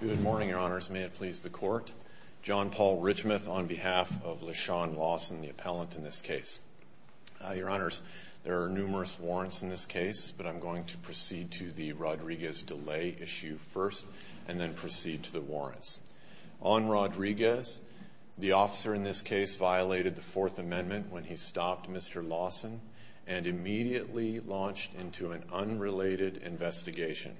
Good morning, your honors. May it please the court. John Paul Richmouth on behalf of LeShawn Lawson, the appellant in this case. Your honors, there are numerous warrants in this case, but I'm going to proceed to the Rodriguez delay issue first and then proceed to the warrants. On Rodriguez, the officer in this case violated the Fourth Amendment when he stopped Mr. Lawson and immediately launched into an unrelated investigation.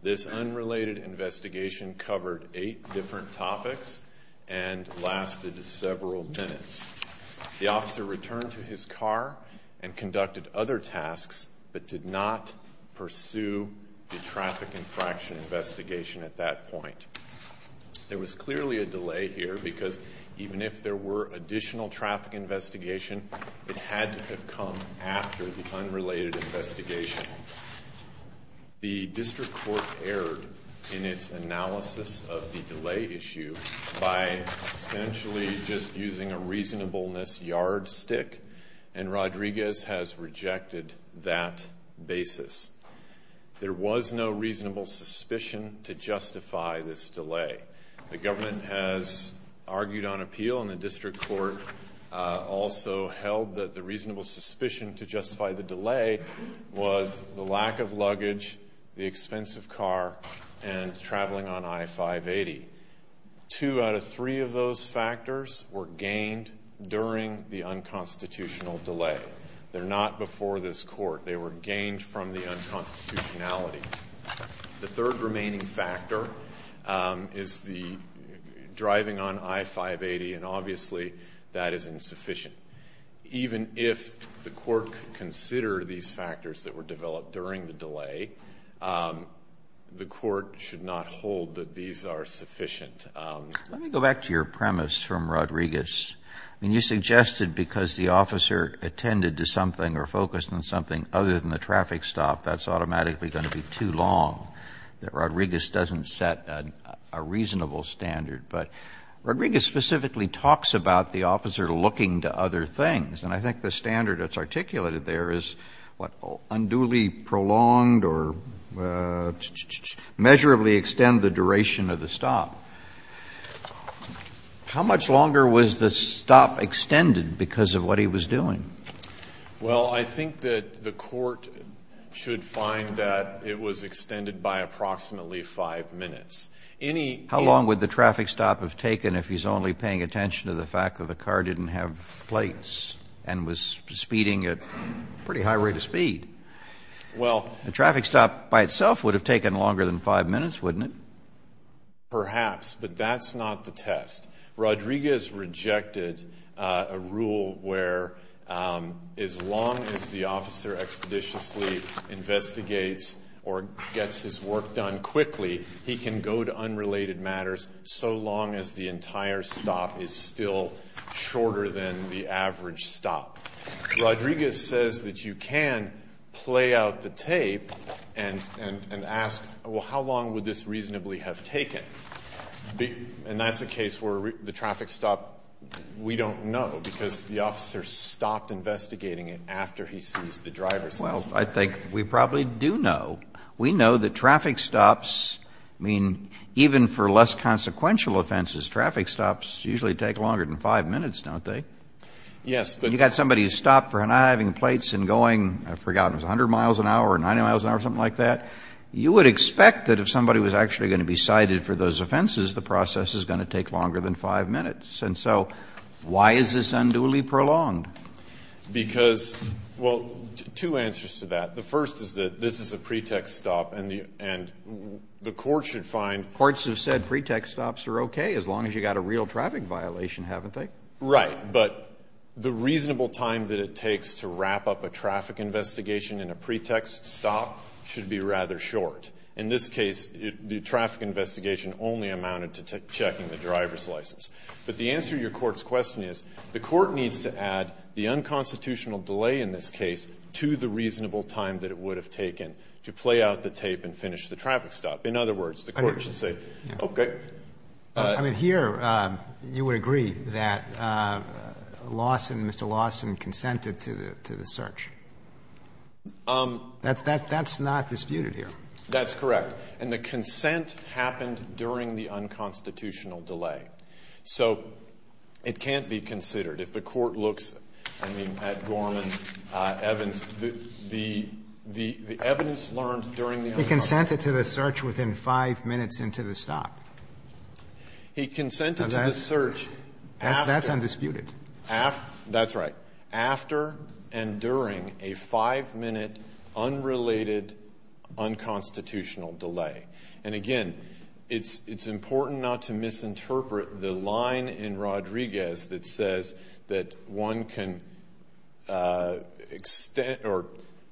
This unrelated investigation covered eight different topics and lasted several minutes. The officer returned to his car and conducted other tasks but did not pursue the traffic infraction investigation at that point. There was clearly a delay here because even if there were additional traffic investigation, it had to have come after the unrelated investigation. The district court erred in its analysis of the delay issue by essentially just using a reasonableness yardstick, and Rodriguez has rejected that basis. There was no reasonable suspicion to justify this delay. The government has argued on appeal, and the district court also held that the reasonable suspicion to justify the delay was the lack of luggage, the expensive car, and traveling on I-580. Two out of three of those factors were gained during the unconstitutional delay. They're not before this court. They were gained from the unconstitutionality. The third remaining factor is the driving on I-580, and obviously that is insufficient. Even if the court considered these factors that were developed during the delay, the court should not hold that these are sufficient. Let me go back to your premise from Rodriguez. I mean, you suggested because the officer attended to something or focused on something other than the traffic stop, that's automatically going to be too long, that Rodriguez doesn't set a reasonable standard. But Rodriguez specifically talks about the officer looking to other things, and I think the standard that's articulated there is unduly prolonged or measurably extend the duration of the stop. How much longer was the stop extended because of what he was doing? Well, I think that the court should find that it was extended by approximately 5 minutes. Any any How long would the traffic stop have taken if he's only paying attention to the fact that the car didn't have plates and was speeding at a pretty high rate of speed? Well, The traffic stop by itself would have taken longer than 5 minutes, wouldn't it? Perhaps, but that's not the test. Rodriguez rejected a rule where as long as the officer expeditiously investigates or gets his work done quickly, he can go to unrelated matters so long as the entire stop is still shorter than the average stop. Rodriguez says that you can play out the tape and ask, well, how long would this reasonably have taken? And that's a case where the traffic stop, we don't know because the officer stopped investigating it after he sees the driver's license plate. Well, I think we probably do know. We know that traffic stops, I mean, even for less consequential offenses, traffic stops usually take longer than 5 minutes, don't they? Yes, but You've got somebody who's stopped for not having plates and going, I've forgotten, 100 miles an hour or 90 miles an hour or something like that. You would expect that if somebody was actually going to be cited for those offenses, the process is going to take longer than 5 minutes. And so why is this unduly prolonged? Because, well, two answers to that. The first is that this is a pretext stop and the court should find Courts have said pretext stops are okay as long as you've got a real traffic violation, haven't they? Right. But the reasonable time that it takes to wrap up a traffic investigation in a pretext stop should be rather short. In this case, the traffic investigation only amounted to checking the driver's license. But the answer to your Court's question is the Court needs to add the unconstitutional delay in this case to the reasonable time that it would have taken to play out the tape and finish the traffic stop. In other words, the Court should say, okay. I mean, here you would agree that Lawson, Mr. Lawson, consented to the search. That's not disputed here. That's correct. And the consent happened during the unconstitutional delay. So it can't be considered. If the Court looks, I mean, at Gorman, Evans, the evidence learned during the unconstitutional delay. He consented to the search within 5 minutes into the stop. He consented to the search after. That's undisputed. That's right. After and during a 5-minute unrelated unconstitutional delay. And again, it's important not to misinterpret the line in Rodriguez that says that one can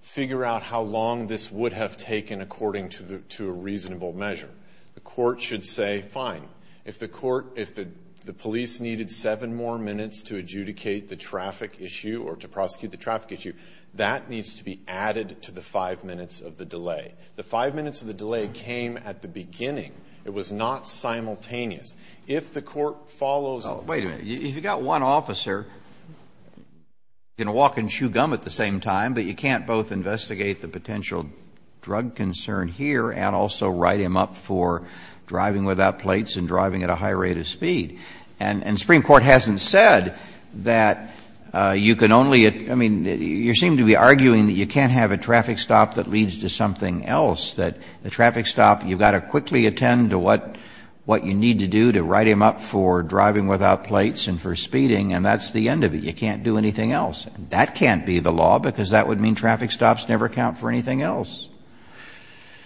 figure out how long this would have taken according to a reasonable measure. The Court should say, fine. If the Court, if the police needed 7 more minutes to adjudicate the traffic issue or to prosecute the traffic issue, that needs to be added to the 5 minutes of the delay. The 5 minutes of the delay came at the beginning. It was not simultaneous. If the Court follows. Wait a minute. If you've got one officer, you can walk and chew gum at the same time, but you can't both investigate the potential drug concern here and also write him up for driving without plates and driving at a high rate of speed. And the Supreme Court hasn't said that you can only, I mean, you seem to be arguing that you can't have a traffic stop that leads to something else, that the traffic stop, you've got to quickly attend to what you need to do to write him up for driving without plates and for speeding, and that's the end of it. You can't do anything else. That can't be the law, because that would mean traffic stops never count for anything else.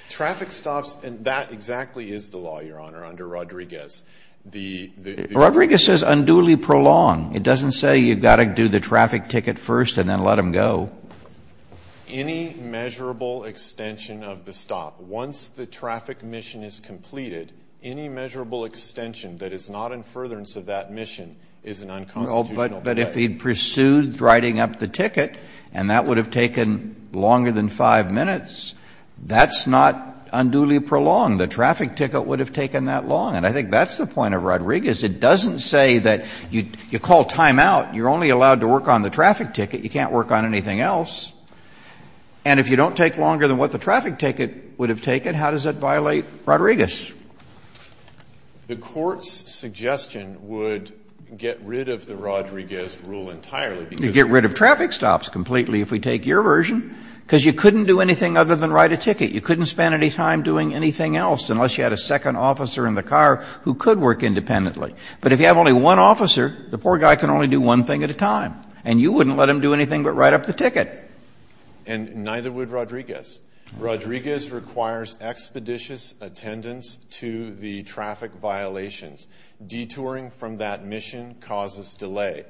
Traffic stops, and that exactly is the law, Your Honor, under Rodriguez. The. Rodriguez says unduly prolonged. It doesn't say you've got to do the traffic ticket first and then let him go. Any measurable extension of the stop. Once the traffic mission is completed, any measurable extension that is not in furtherance of that mission is an unconstitutional bet. But if he pursued writing up the ticket, and that would have taken longer than 5 minutes, that's not unduly prolonged. The traffic ticket would have taken that long. And I think that's the point of Rodriguez. It doesn't say that you call timeout. You're only allowed to work on the traffic ticket. You can't work on anything else. And if you don't take longer than what the traffic ticket would have taken, how does that violate Rodriguez? The Court's suggestion would get rid of the Rodriguez rule entirely. You get rid of traffic stops completely if we take your version, because you couldn't do anything other than write a ticket. You couldn't spend any time doing anything else unless you had a second officer in the car who could work independently. But if you have only one officer, the poor guy can only do one thing at a time. And you wouldn't let him do anything but write up the ticket. And neither would Rodriguez. Rodriguez requires expeditious attendance to the traffic violations. Detouring from that mission causes delay.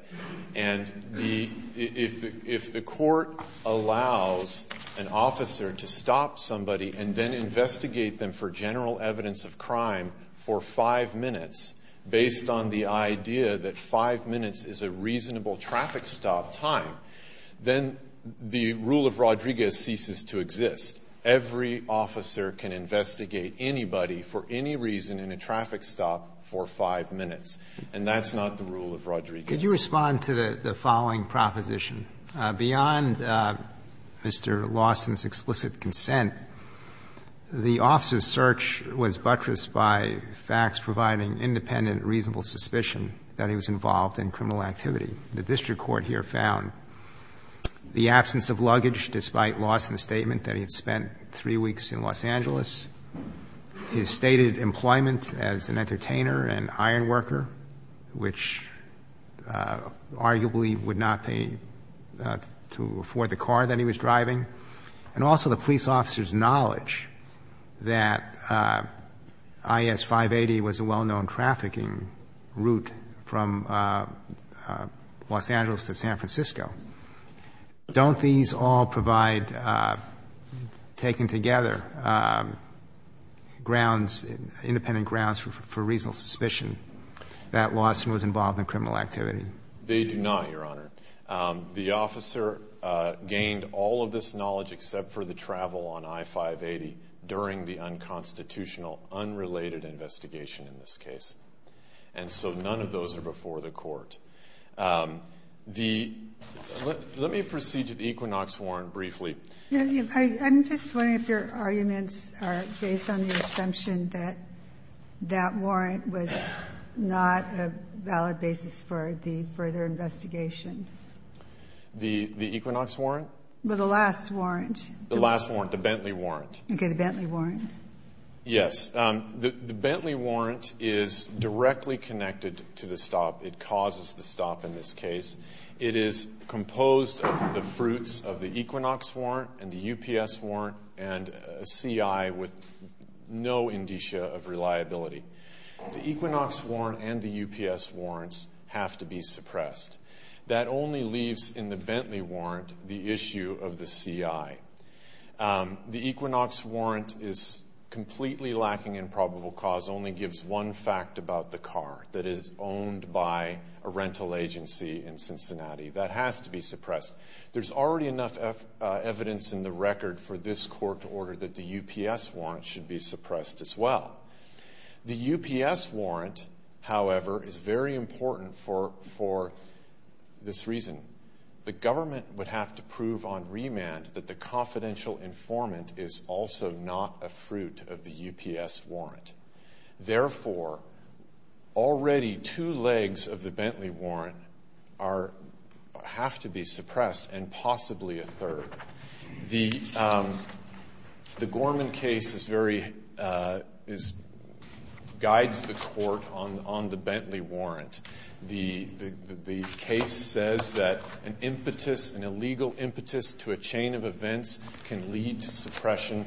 And if the Court allows an officer to stop somebody and then investigate them for general evidence of crime for five minutes, based on the idea that five minutes is a reasonable traffic stop time, then the rule of Rodriguez ceases to exist. Every officer can investigate anybody for any reason in a traffic stop for five minutes. And that's not the rule of Rodriguez. Roberts. Could you respond to the following proposition? Beyond Mr. Lawson's explicit consent, the officer's search was buttressed by facts providing independent reasonable suspicion that he was involved in criminal activity. The district court here found the absence of luggage despite Lawson's statement that he had spent three weeks in Los Angeles, his stated employment as an entertainer and iron worker, which arguably would not pay to afford the car that he was driving, and also the police officer's knowledge that I.S. 580 was a well-known trafficking route from Los Angeles to San Francisco. Don't these all provide, taken together, grounds, independent grounds for reasonable suspicion that Lawson was involved in criminal activity? They do not, Your Honor. The officer gained all of this knowledge except for the travel on I.S. 580 during the unconstitutional, unrelated investigation in this case. And so none of those are before the Court. Let me proceed to the Equinox Warrant briefly. I'm just wondering if your arguments are based on the assumption that that warrant was not a valid basis for the further investigation. The Equinox Warrant? Well, the last warrant. The last warrant, the Bentley Warrant. Okay, the Bentley Warrant. Yes. The Bentley Warrant is directly connected to the stop. It causes the stop in this case. It is composed of the fruits of the Equinox Warrant and the UPS Warrant and a CI with no indicia of reliability. The Equinox Warrant and the UPS Warrants have to be suppressed. That only leaves in the Bentley Warrant the issue of the CI. The Equinox Warrant is completely lacking in probable cause, only gives one fact about the car, that it is owned by a rental agency in Cincinnati. That has to be suppressed. There's already enough evidence in the record for this court to order that the UPS Warrant should be suppressed as well. The UPS Warrant, however, is very important for this reason. The government would have to prove on remand that the confidential informant is also not a fruit of the UPS Warrant. Therefore, already two legs of the Bentley Warrant have to be suppressed and possibly a third. The Gorman case guides the court on the Bentley Warrant. The case says that an impetus, an illegal impetus to a chain of events can lead to suppression,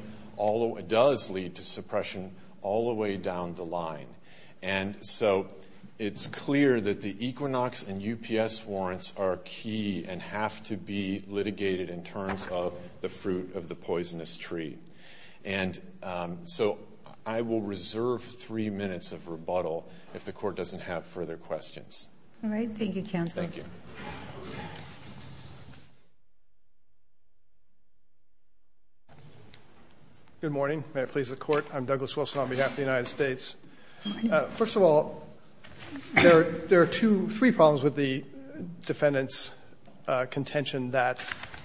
does lead to suppression all the way down the line. It's clear that the Equinox and UPS Warrants are key and have to be litigated in terms of the fruit of the poisonous tree. I will reserve three minutes of rebuttal if the court doesn't have further questions. All right. Thank you, counsel. Thank you. Good morning. May it please the Court. I'm Douglas Wilson on behalf of the United States. First of all, there are two, three problems with the defendant's contention that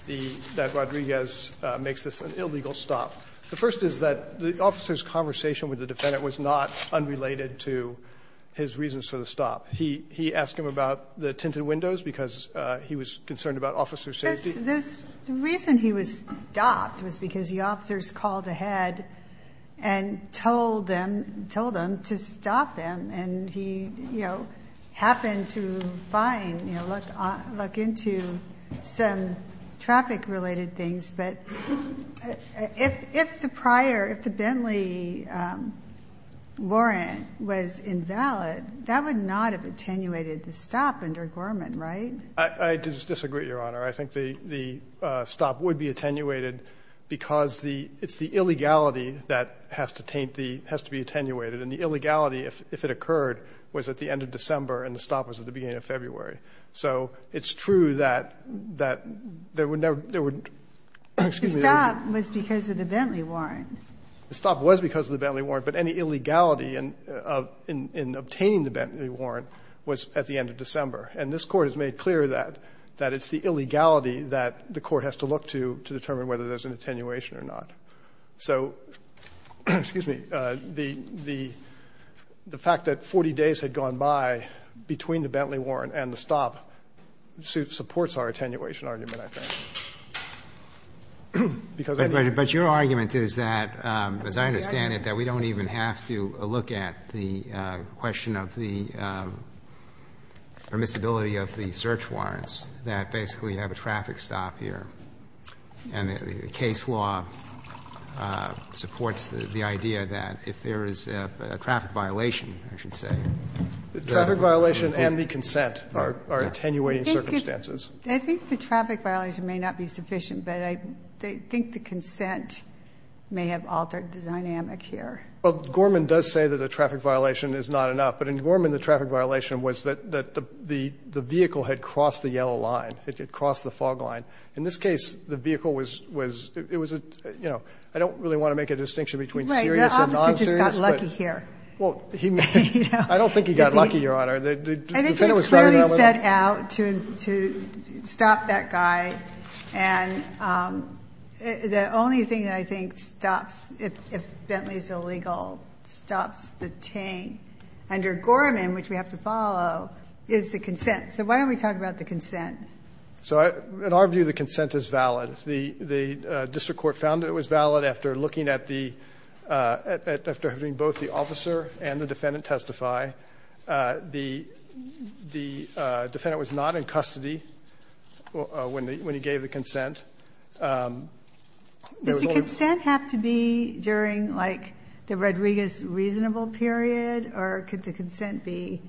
the, that Rodriguez makes this an illegal stop. The first is that the officer's conversation with the defendant was not unrelated to his reasons for the stop. He asked him about the tinted windows because he was concerned about officer safety. The reason he was stopped was because the officers called ahead and told them, told him to stop him, and he, you know, happened to find, you know, look into some traffic-related things. But if the prior, if the Bentley Warrant was invalid, that would not have attenuated the stop under Gorman, right? I disagree, Your Honor. I think the, the stop would be attenuated because the, it's the illegality that has to taint the, has to be attenuated. And the illegality, if it occurred, was at the end of December and the stop was at the beginning of February. So it's true that, that there would never, there would, excuse me. The stop was because of the Bentley Warrant. The stop was because of the Bentley Warrant, but any illegality in, in obtaining the Bentley Warrant was at the end of December. And this Court has made clear that, that it's the illegality that the Court has to look to, to determine whether there's an attenuation or not. So, excuse me, the, the fact that 40 days had gone by between the Bentley Warrant and the stop supports our attenuation argument, I think. Because any. But your argument is that, as I understand it, that we don't even have to look at the question of the permissibility of the search warrants, that basically you have a traffic stop here, and the case law supports the idea that if there is a traffic violation, I should say. Traffic violation and the consent are attenuating circumstances. I think the traffic violation may not be sufficient, but I think the consent may have altered the dynamic here. Well, Gorman does say that a traffic violation is not enough. But in Gorman, the traffic violation was that, that the, the vehicle had crossed the yellow line. It had crossed the fog line. In this case, the vehicle was, was, it was a, you know, I don't really want to make a distinction between serious and non-serious, but. Right. The officer just got lucky here. Well, he may. I don't think he got lucky, Your Honor. The, the defendant was talking about whether. And it was clearly set out to, to stop that guy. And the only thing that I think stops, if Bentley is illegal, stops the taint under Gorman, which we have to follow, is the consent. So why don't we talk about the consent? So I, in our view, the consent is valid. The, the district court found it was valid after looking at the, after having both the officer and the defendant testify. The, the defendant was not in custody when the, when he gave the consent. There was only. Does the consent have to be during, like, the Rodriguez reasonable period? Or could the consent be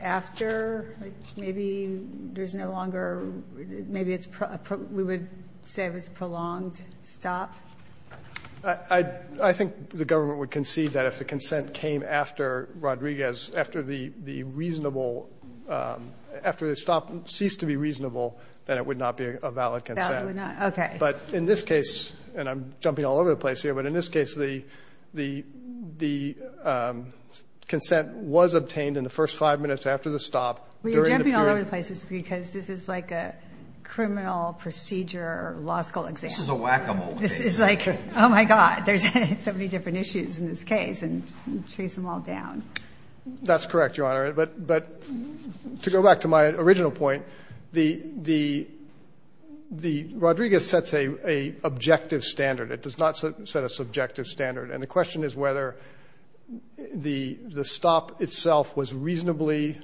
after? Like maybe there's no longer, maybe it's, we would say it was a prolonged stop. I, I think the government would concede that if the consent came after Rodriguez, after the, the reasonable, after the stop ceased to be reasonable, then it would not be a valid consent. It would not, okay. But in this case, and I'm jumping all over the place here, but in this case, the, the, the consent was obtained in the first five minutes after the stop during the period. Well, you're jumping all over the place because this is like a criminal procedure law school exam. This is a whack-a-mole case. This is like, oh, my God, there's so many different issues in this case and trace them all down. That's correct, Your Honor. But, but to go back to my original point, the, the, the Rodriguez sets a, a objective standard. It does not set a subjective standard. And the question is whether the, the stop itself was reasonably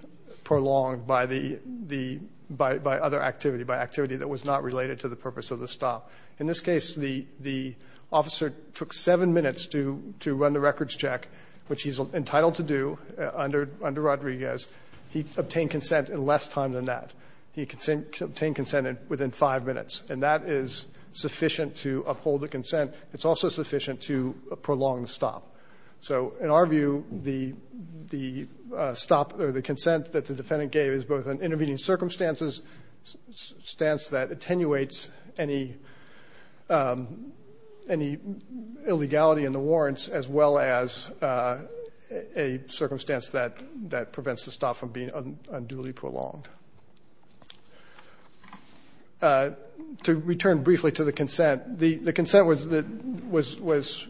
prolonged by the, the, by, by other activity, by activity that was not related to the purpose of the stop. In this case, the, the officer took seven minutes to, to run the records check, which he's entitled to do under, under Rodriguez. He obtained consent in less time than that. He obtained consent within five minutes. And that is sufficient to uphold the consent. It's also sufficient to prolong the stop. So in our view, the, the stop or the consent that the defendant gave is both an intervening circumstance, a circumstance that attenuates any, any illegality in the warrants as well as a circumstance that, that prevents the stop from being unduly prolonged. To return briefly to the consent, the, the consent was, was, was,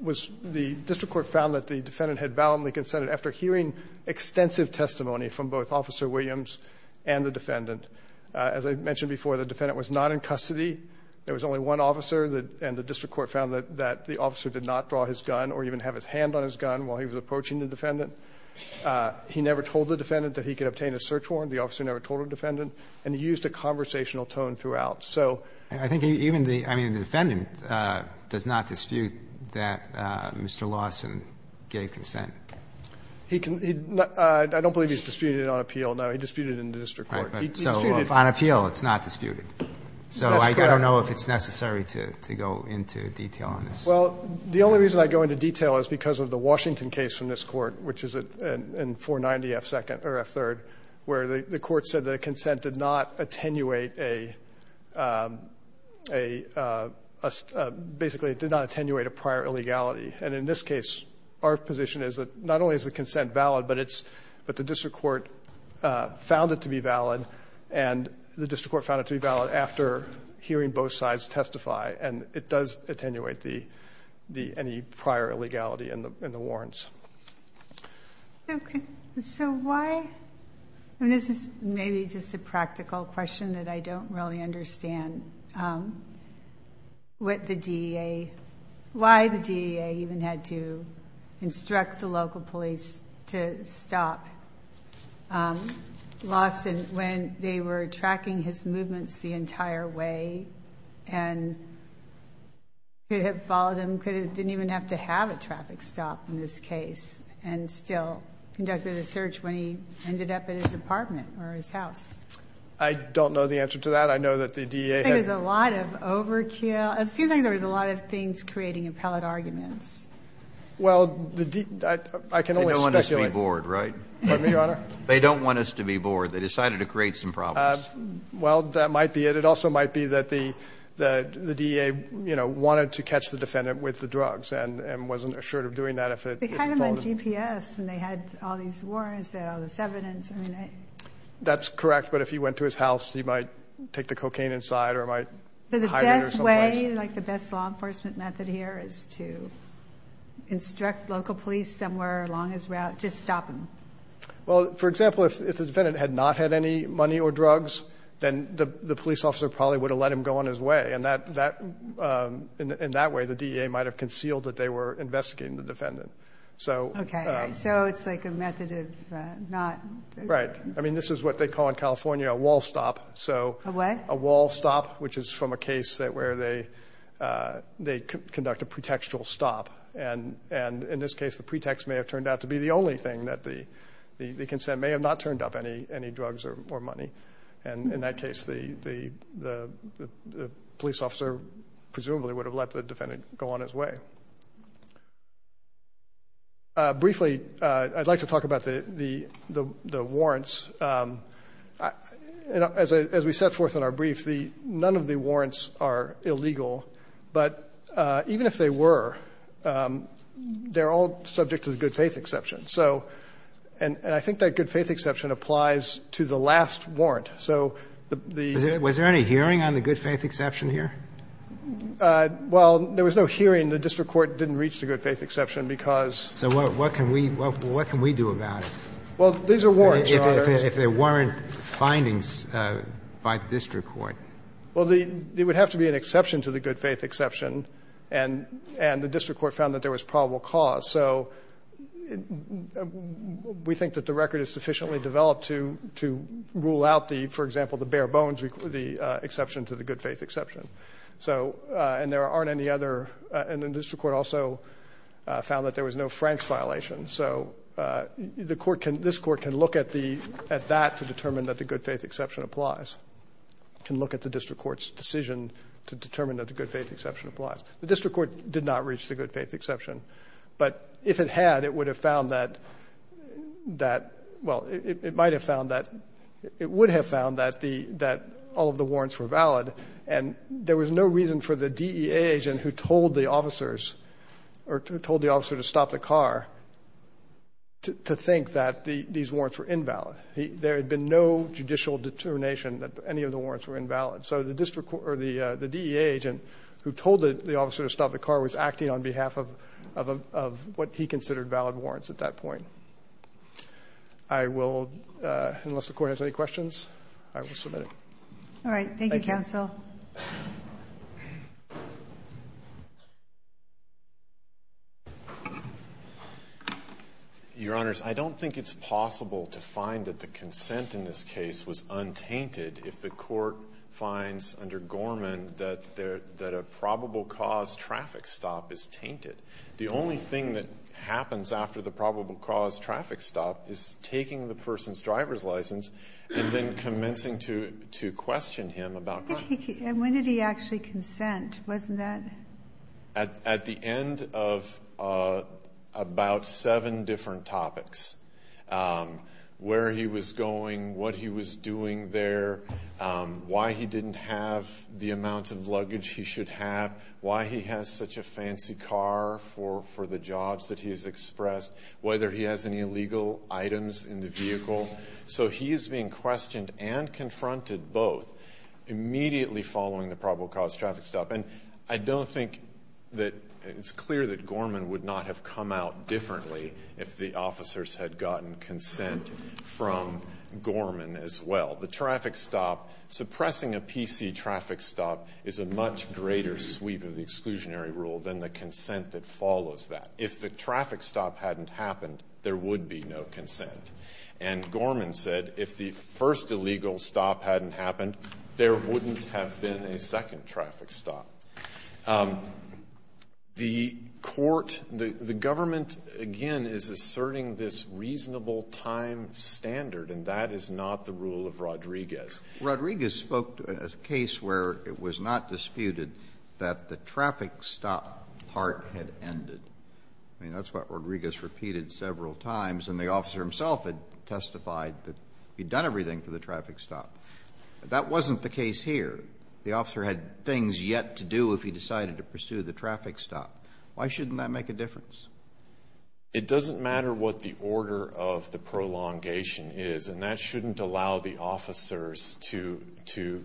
was the district court found that the defendant had validly consented after hearing extensive testimony from both Officer Williams and the defendant. As I mentioned before, the defendant was not in custody. There was only one officer. The, and the district court found that, that the officer did not draw his gun or even have his hand on his gun while he was approaching the defendant. He never told the defendant that he could obtain a search warrant. The officer never told the defendant. And he used a conversational tone throughout. So. Roberts. I think even the, I mean, the defendant does not dispute that Mr. Lawson gave consent. He can, he, I don't believe he's disputed it on appeal. No, he disputed it in the district court. He disputed. So if on appeal, it's not disputed. So I don't know if it's necessary to, to go into detail on this. Well, the only reason I go into detail is because of the Washington case from this court, which is in 490 F second, or F third, where the court said that a consent did not attenuate a, a, a, basically it did not attenuate a prior illegality. And in this case, our position is that not only is the consent valid, but it's, but the district court found it to be valid and the district court found it to be valid after hearing both sides testify and it does attenuate the, the, any prior illegality in the, in the warrants. Okay. So why, I mean, this is maybe just a practical question that I don't really understand what the DEA, why the DEA even had to instruct the local police to stop Lawson when they were tracking his movements the entire way and could have followed him, could have, didn't even have to have a traffic stop in this case and still conducted a search when he ended up at his apartment or his house. I don't know the answer to that. I know that the DEA. I think there's a lot of overkill. It seems like there was a lot of things creating appellate arguments. Well, the, I, I can only speculate. They don't want us to be bored, right? Pardon me, Your Honor? They don't want us to be bored. They decided to create some problems. Well, that might be it. It also might be that the, the, the DEA, you know, wanted to catch the defendant with the drugs and, and wasn't assured of doing that if it, if it followed him. They had him on GPS and they had all these warrants, they had all this evidence. I mean, I. That's correct. But if he went to his house, he might take the cocaine inside or might. But the best way, like the best law enforcement method here is to instruct local police somewhere along his route. Just stop him. Well, for example, if, if the defendant had not had any money or drugs, then the, the police officer probably would have let him go on his way. And that, that in, in that way, the DEA might've concealed that they were investigating the defendant. So, okay. So it's like a method of not. Right. I mean, this is what they call in California, a wall stop. So a wall stop, which is from a case that where they, they conduct a pretextual stop. And, and in this case, the pretext may have turned out to be the only thing that the, the, the consent may have not turned up any, any drugs or money. And in that case, the, the, the, the police officer presumably would have let the defendant go on his way. Briefly, I'd like to talk about the, the, the, the warrants as I, as we set forth in our brief, the, none of the warrants are illegal, but even if they were, they're all subject to the good faith exception. So, and, and I think that good faith exception applies to the last warrant. So the, the, was there any hearing on the good faith exception here? Well, there was no hearing. I mean, the district court didn't reach the good faith exception because. So what, what can we, what, what can we do about it? Well, these are warrants, Your Honor. If, if there weren't findings by the district court. Well, the, it would have to be an exception to the good faith exception. And, and the district court found that there was probable cause. So we think that the record is sufficiently developed to, to rule out the, for example, the bare bones, the exception to the good faith exception. So, and there aren't any other, and the district court also found that there was no Frank's violation. So the court can, this court can look at the, at that to determine that the good faith exception applies. It can look at the district court's decision to determine that the good faith exception applies. The district court did not reach the good faith exception, but if it had, it would have found that, that, well, it, it might have found that, it would have found that the, that all of the warrants were valid. And there was no reason for the DEA agent who told the officers or told the officer to stop the car to think that the, these warrants were invalid. There had been no judicial determination that any of the warrants were invalid. So the district court or the, the DEA agent who told the officer to stop the car was acting on behalf of, of, of what he considered valid warrants at that point. I will, unless the court has any questions, I will submit it. All right. Thank you, counsel. Your Honors, I don't think it's possible to find that the consent in this case was untainted if the court finds under Gorman that there, that a probable cause traffic stop is tainted. The only thing that happens after the probable cause traffic stop is taking the When did he actually consent? Wasn't that? At, at the end of about seven different topics. Where he was going, what he was doing there, why he didn't have the amount of luggage he should have, why he has such a fancy car for, for the jobs that he has expressed, whether he has any illegal items in the vehicle. So he is being questioned and confronted both immediately following the probable cause traffic stop. And I don't think that it's clear that Gorman would not have come out differently if the officers had gotten consent from Gorman as well. The traffic stop, suppressing a PC traffic stop is a much greater sweep of the exclusionary rule than the consent that follows that. If the traffic stop hadn't happened, there would be no consent. And Gorman said if the first illegal stop hadn't happened, there wouldn't have been a second traffic stop. The court, the government, again, is asserting this reasonable time standard, and that is not the rule of Rodriguez. Rodriguez spoke to a case where it was not disputed that the traffic stop part had ended. I mean, that's what Rodriguez repeated several times. And the officer himself had testified that he'd done everything for the traffic stop. That wasn't the case here. The officer had things yet to do if he decided to pursue the traffic stop. Why shouldn't that make a difference? It doesn't matter what the order of the prolongation is. And that shouldn't allow the officers to, to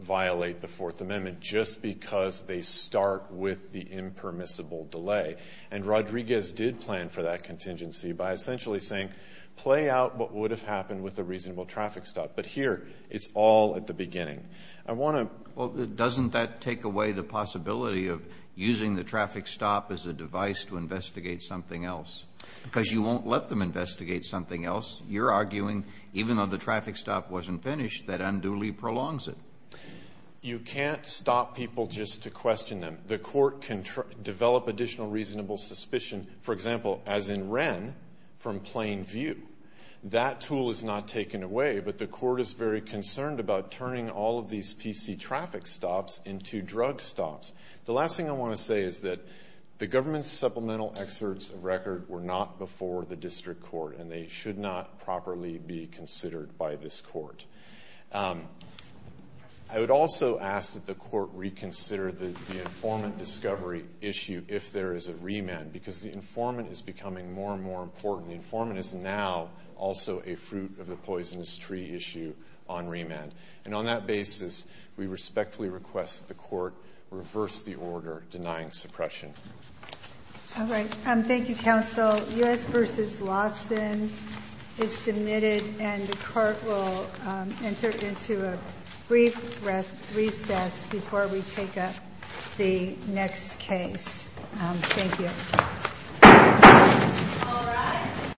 violate the Fourth Amendment just because they start with the impermissible delay. And Rodriguez did plan for that contingency by essentially saying, play out what would have happened with a reasonable traffic stop. But here, it's all at the beginning. I want to ---- Well, doesn't that take away the possibility of using the traffic stop as a device to investigate something else? Because you won't let them investigate something else. You're arguing even though the traffic stop wasn't finished, that unduly prolongs it. You can't stop people just to question them. The court can develop additional reasonable suspicion, for example, as in Wren, from plain view. That tool is not taken away. But the court is very concerned about turning all of these PC traffic stops into drug stops. The last thing I want to say is that the government's supplemental excerpts of record were not before the district court. And they should not properly be considered by this court. I would also ask that the court reconsider the informant discovery issue if there is a remand. Because the informant is becoming more and more important. The informant is now also a fruit of the poisonous tree issue on remand. And on that basis, we respectfully request that the court reverse the order denying suppression. All right. Thank you, counsel. So U.S. v. Lawson is submitted. And the court will enter into a brief recess before we take up the next case. Thank you.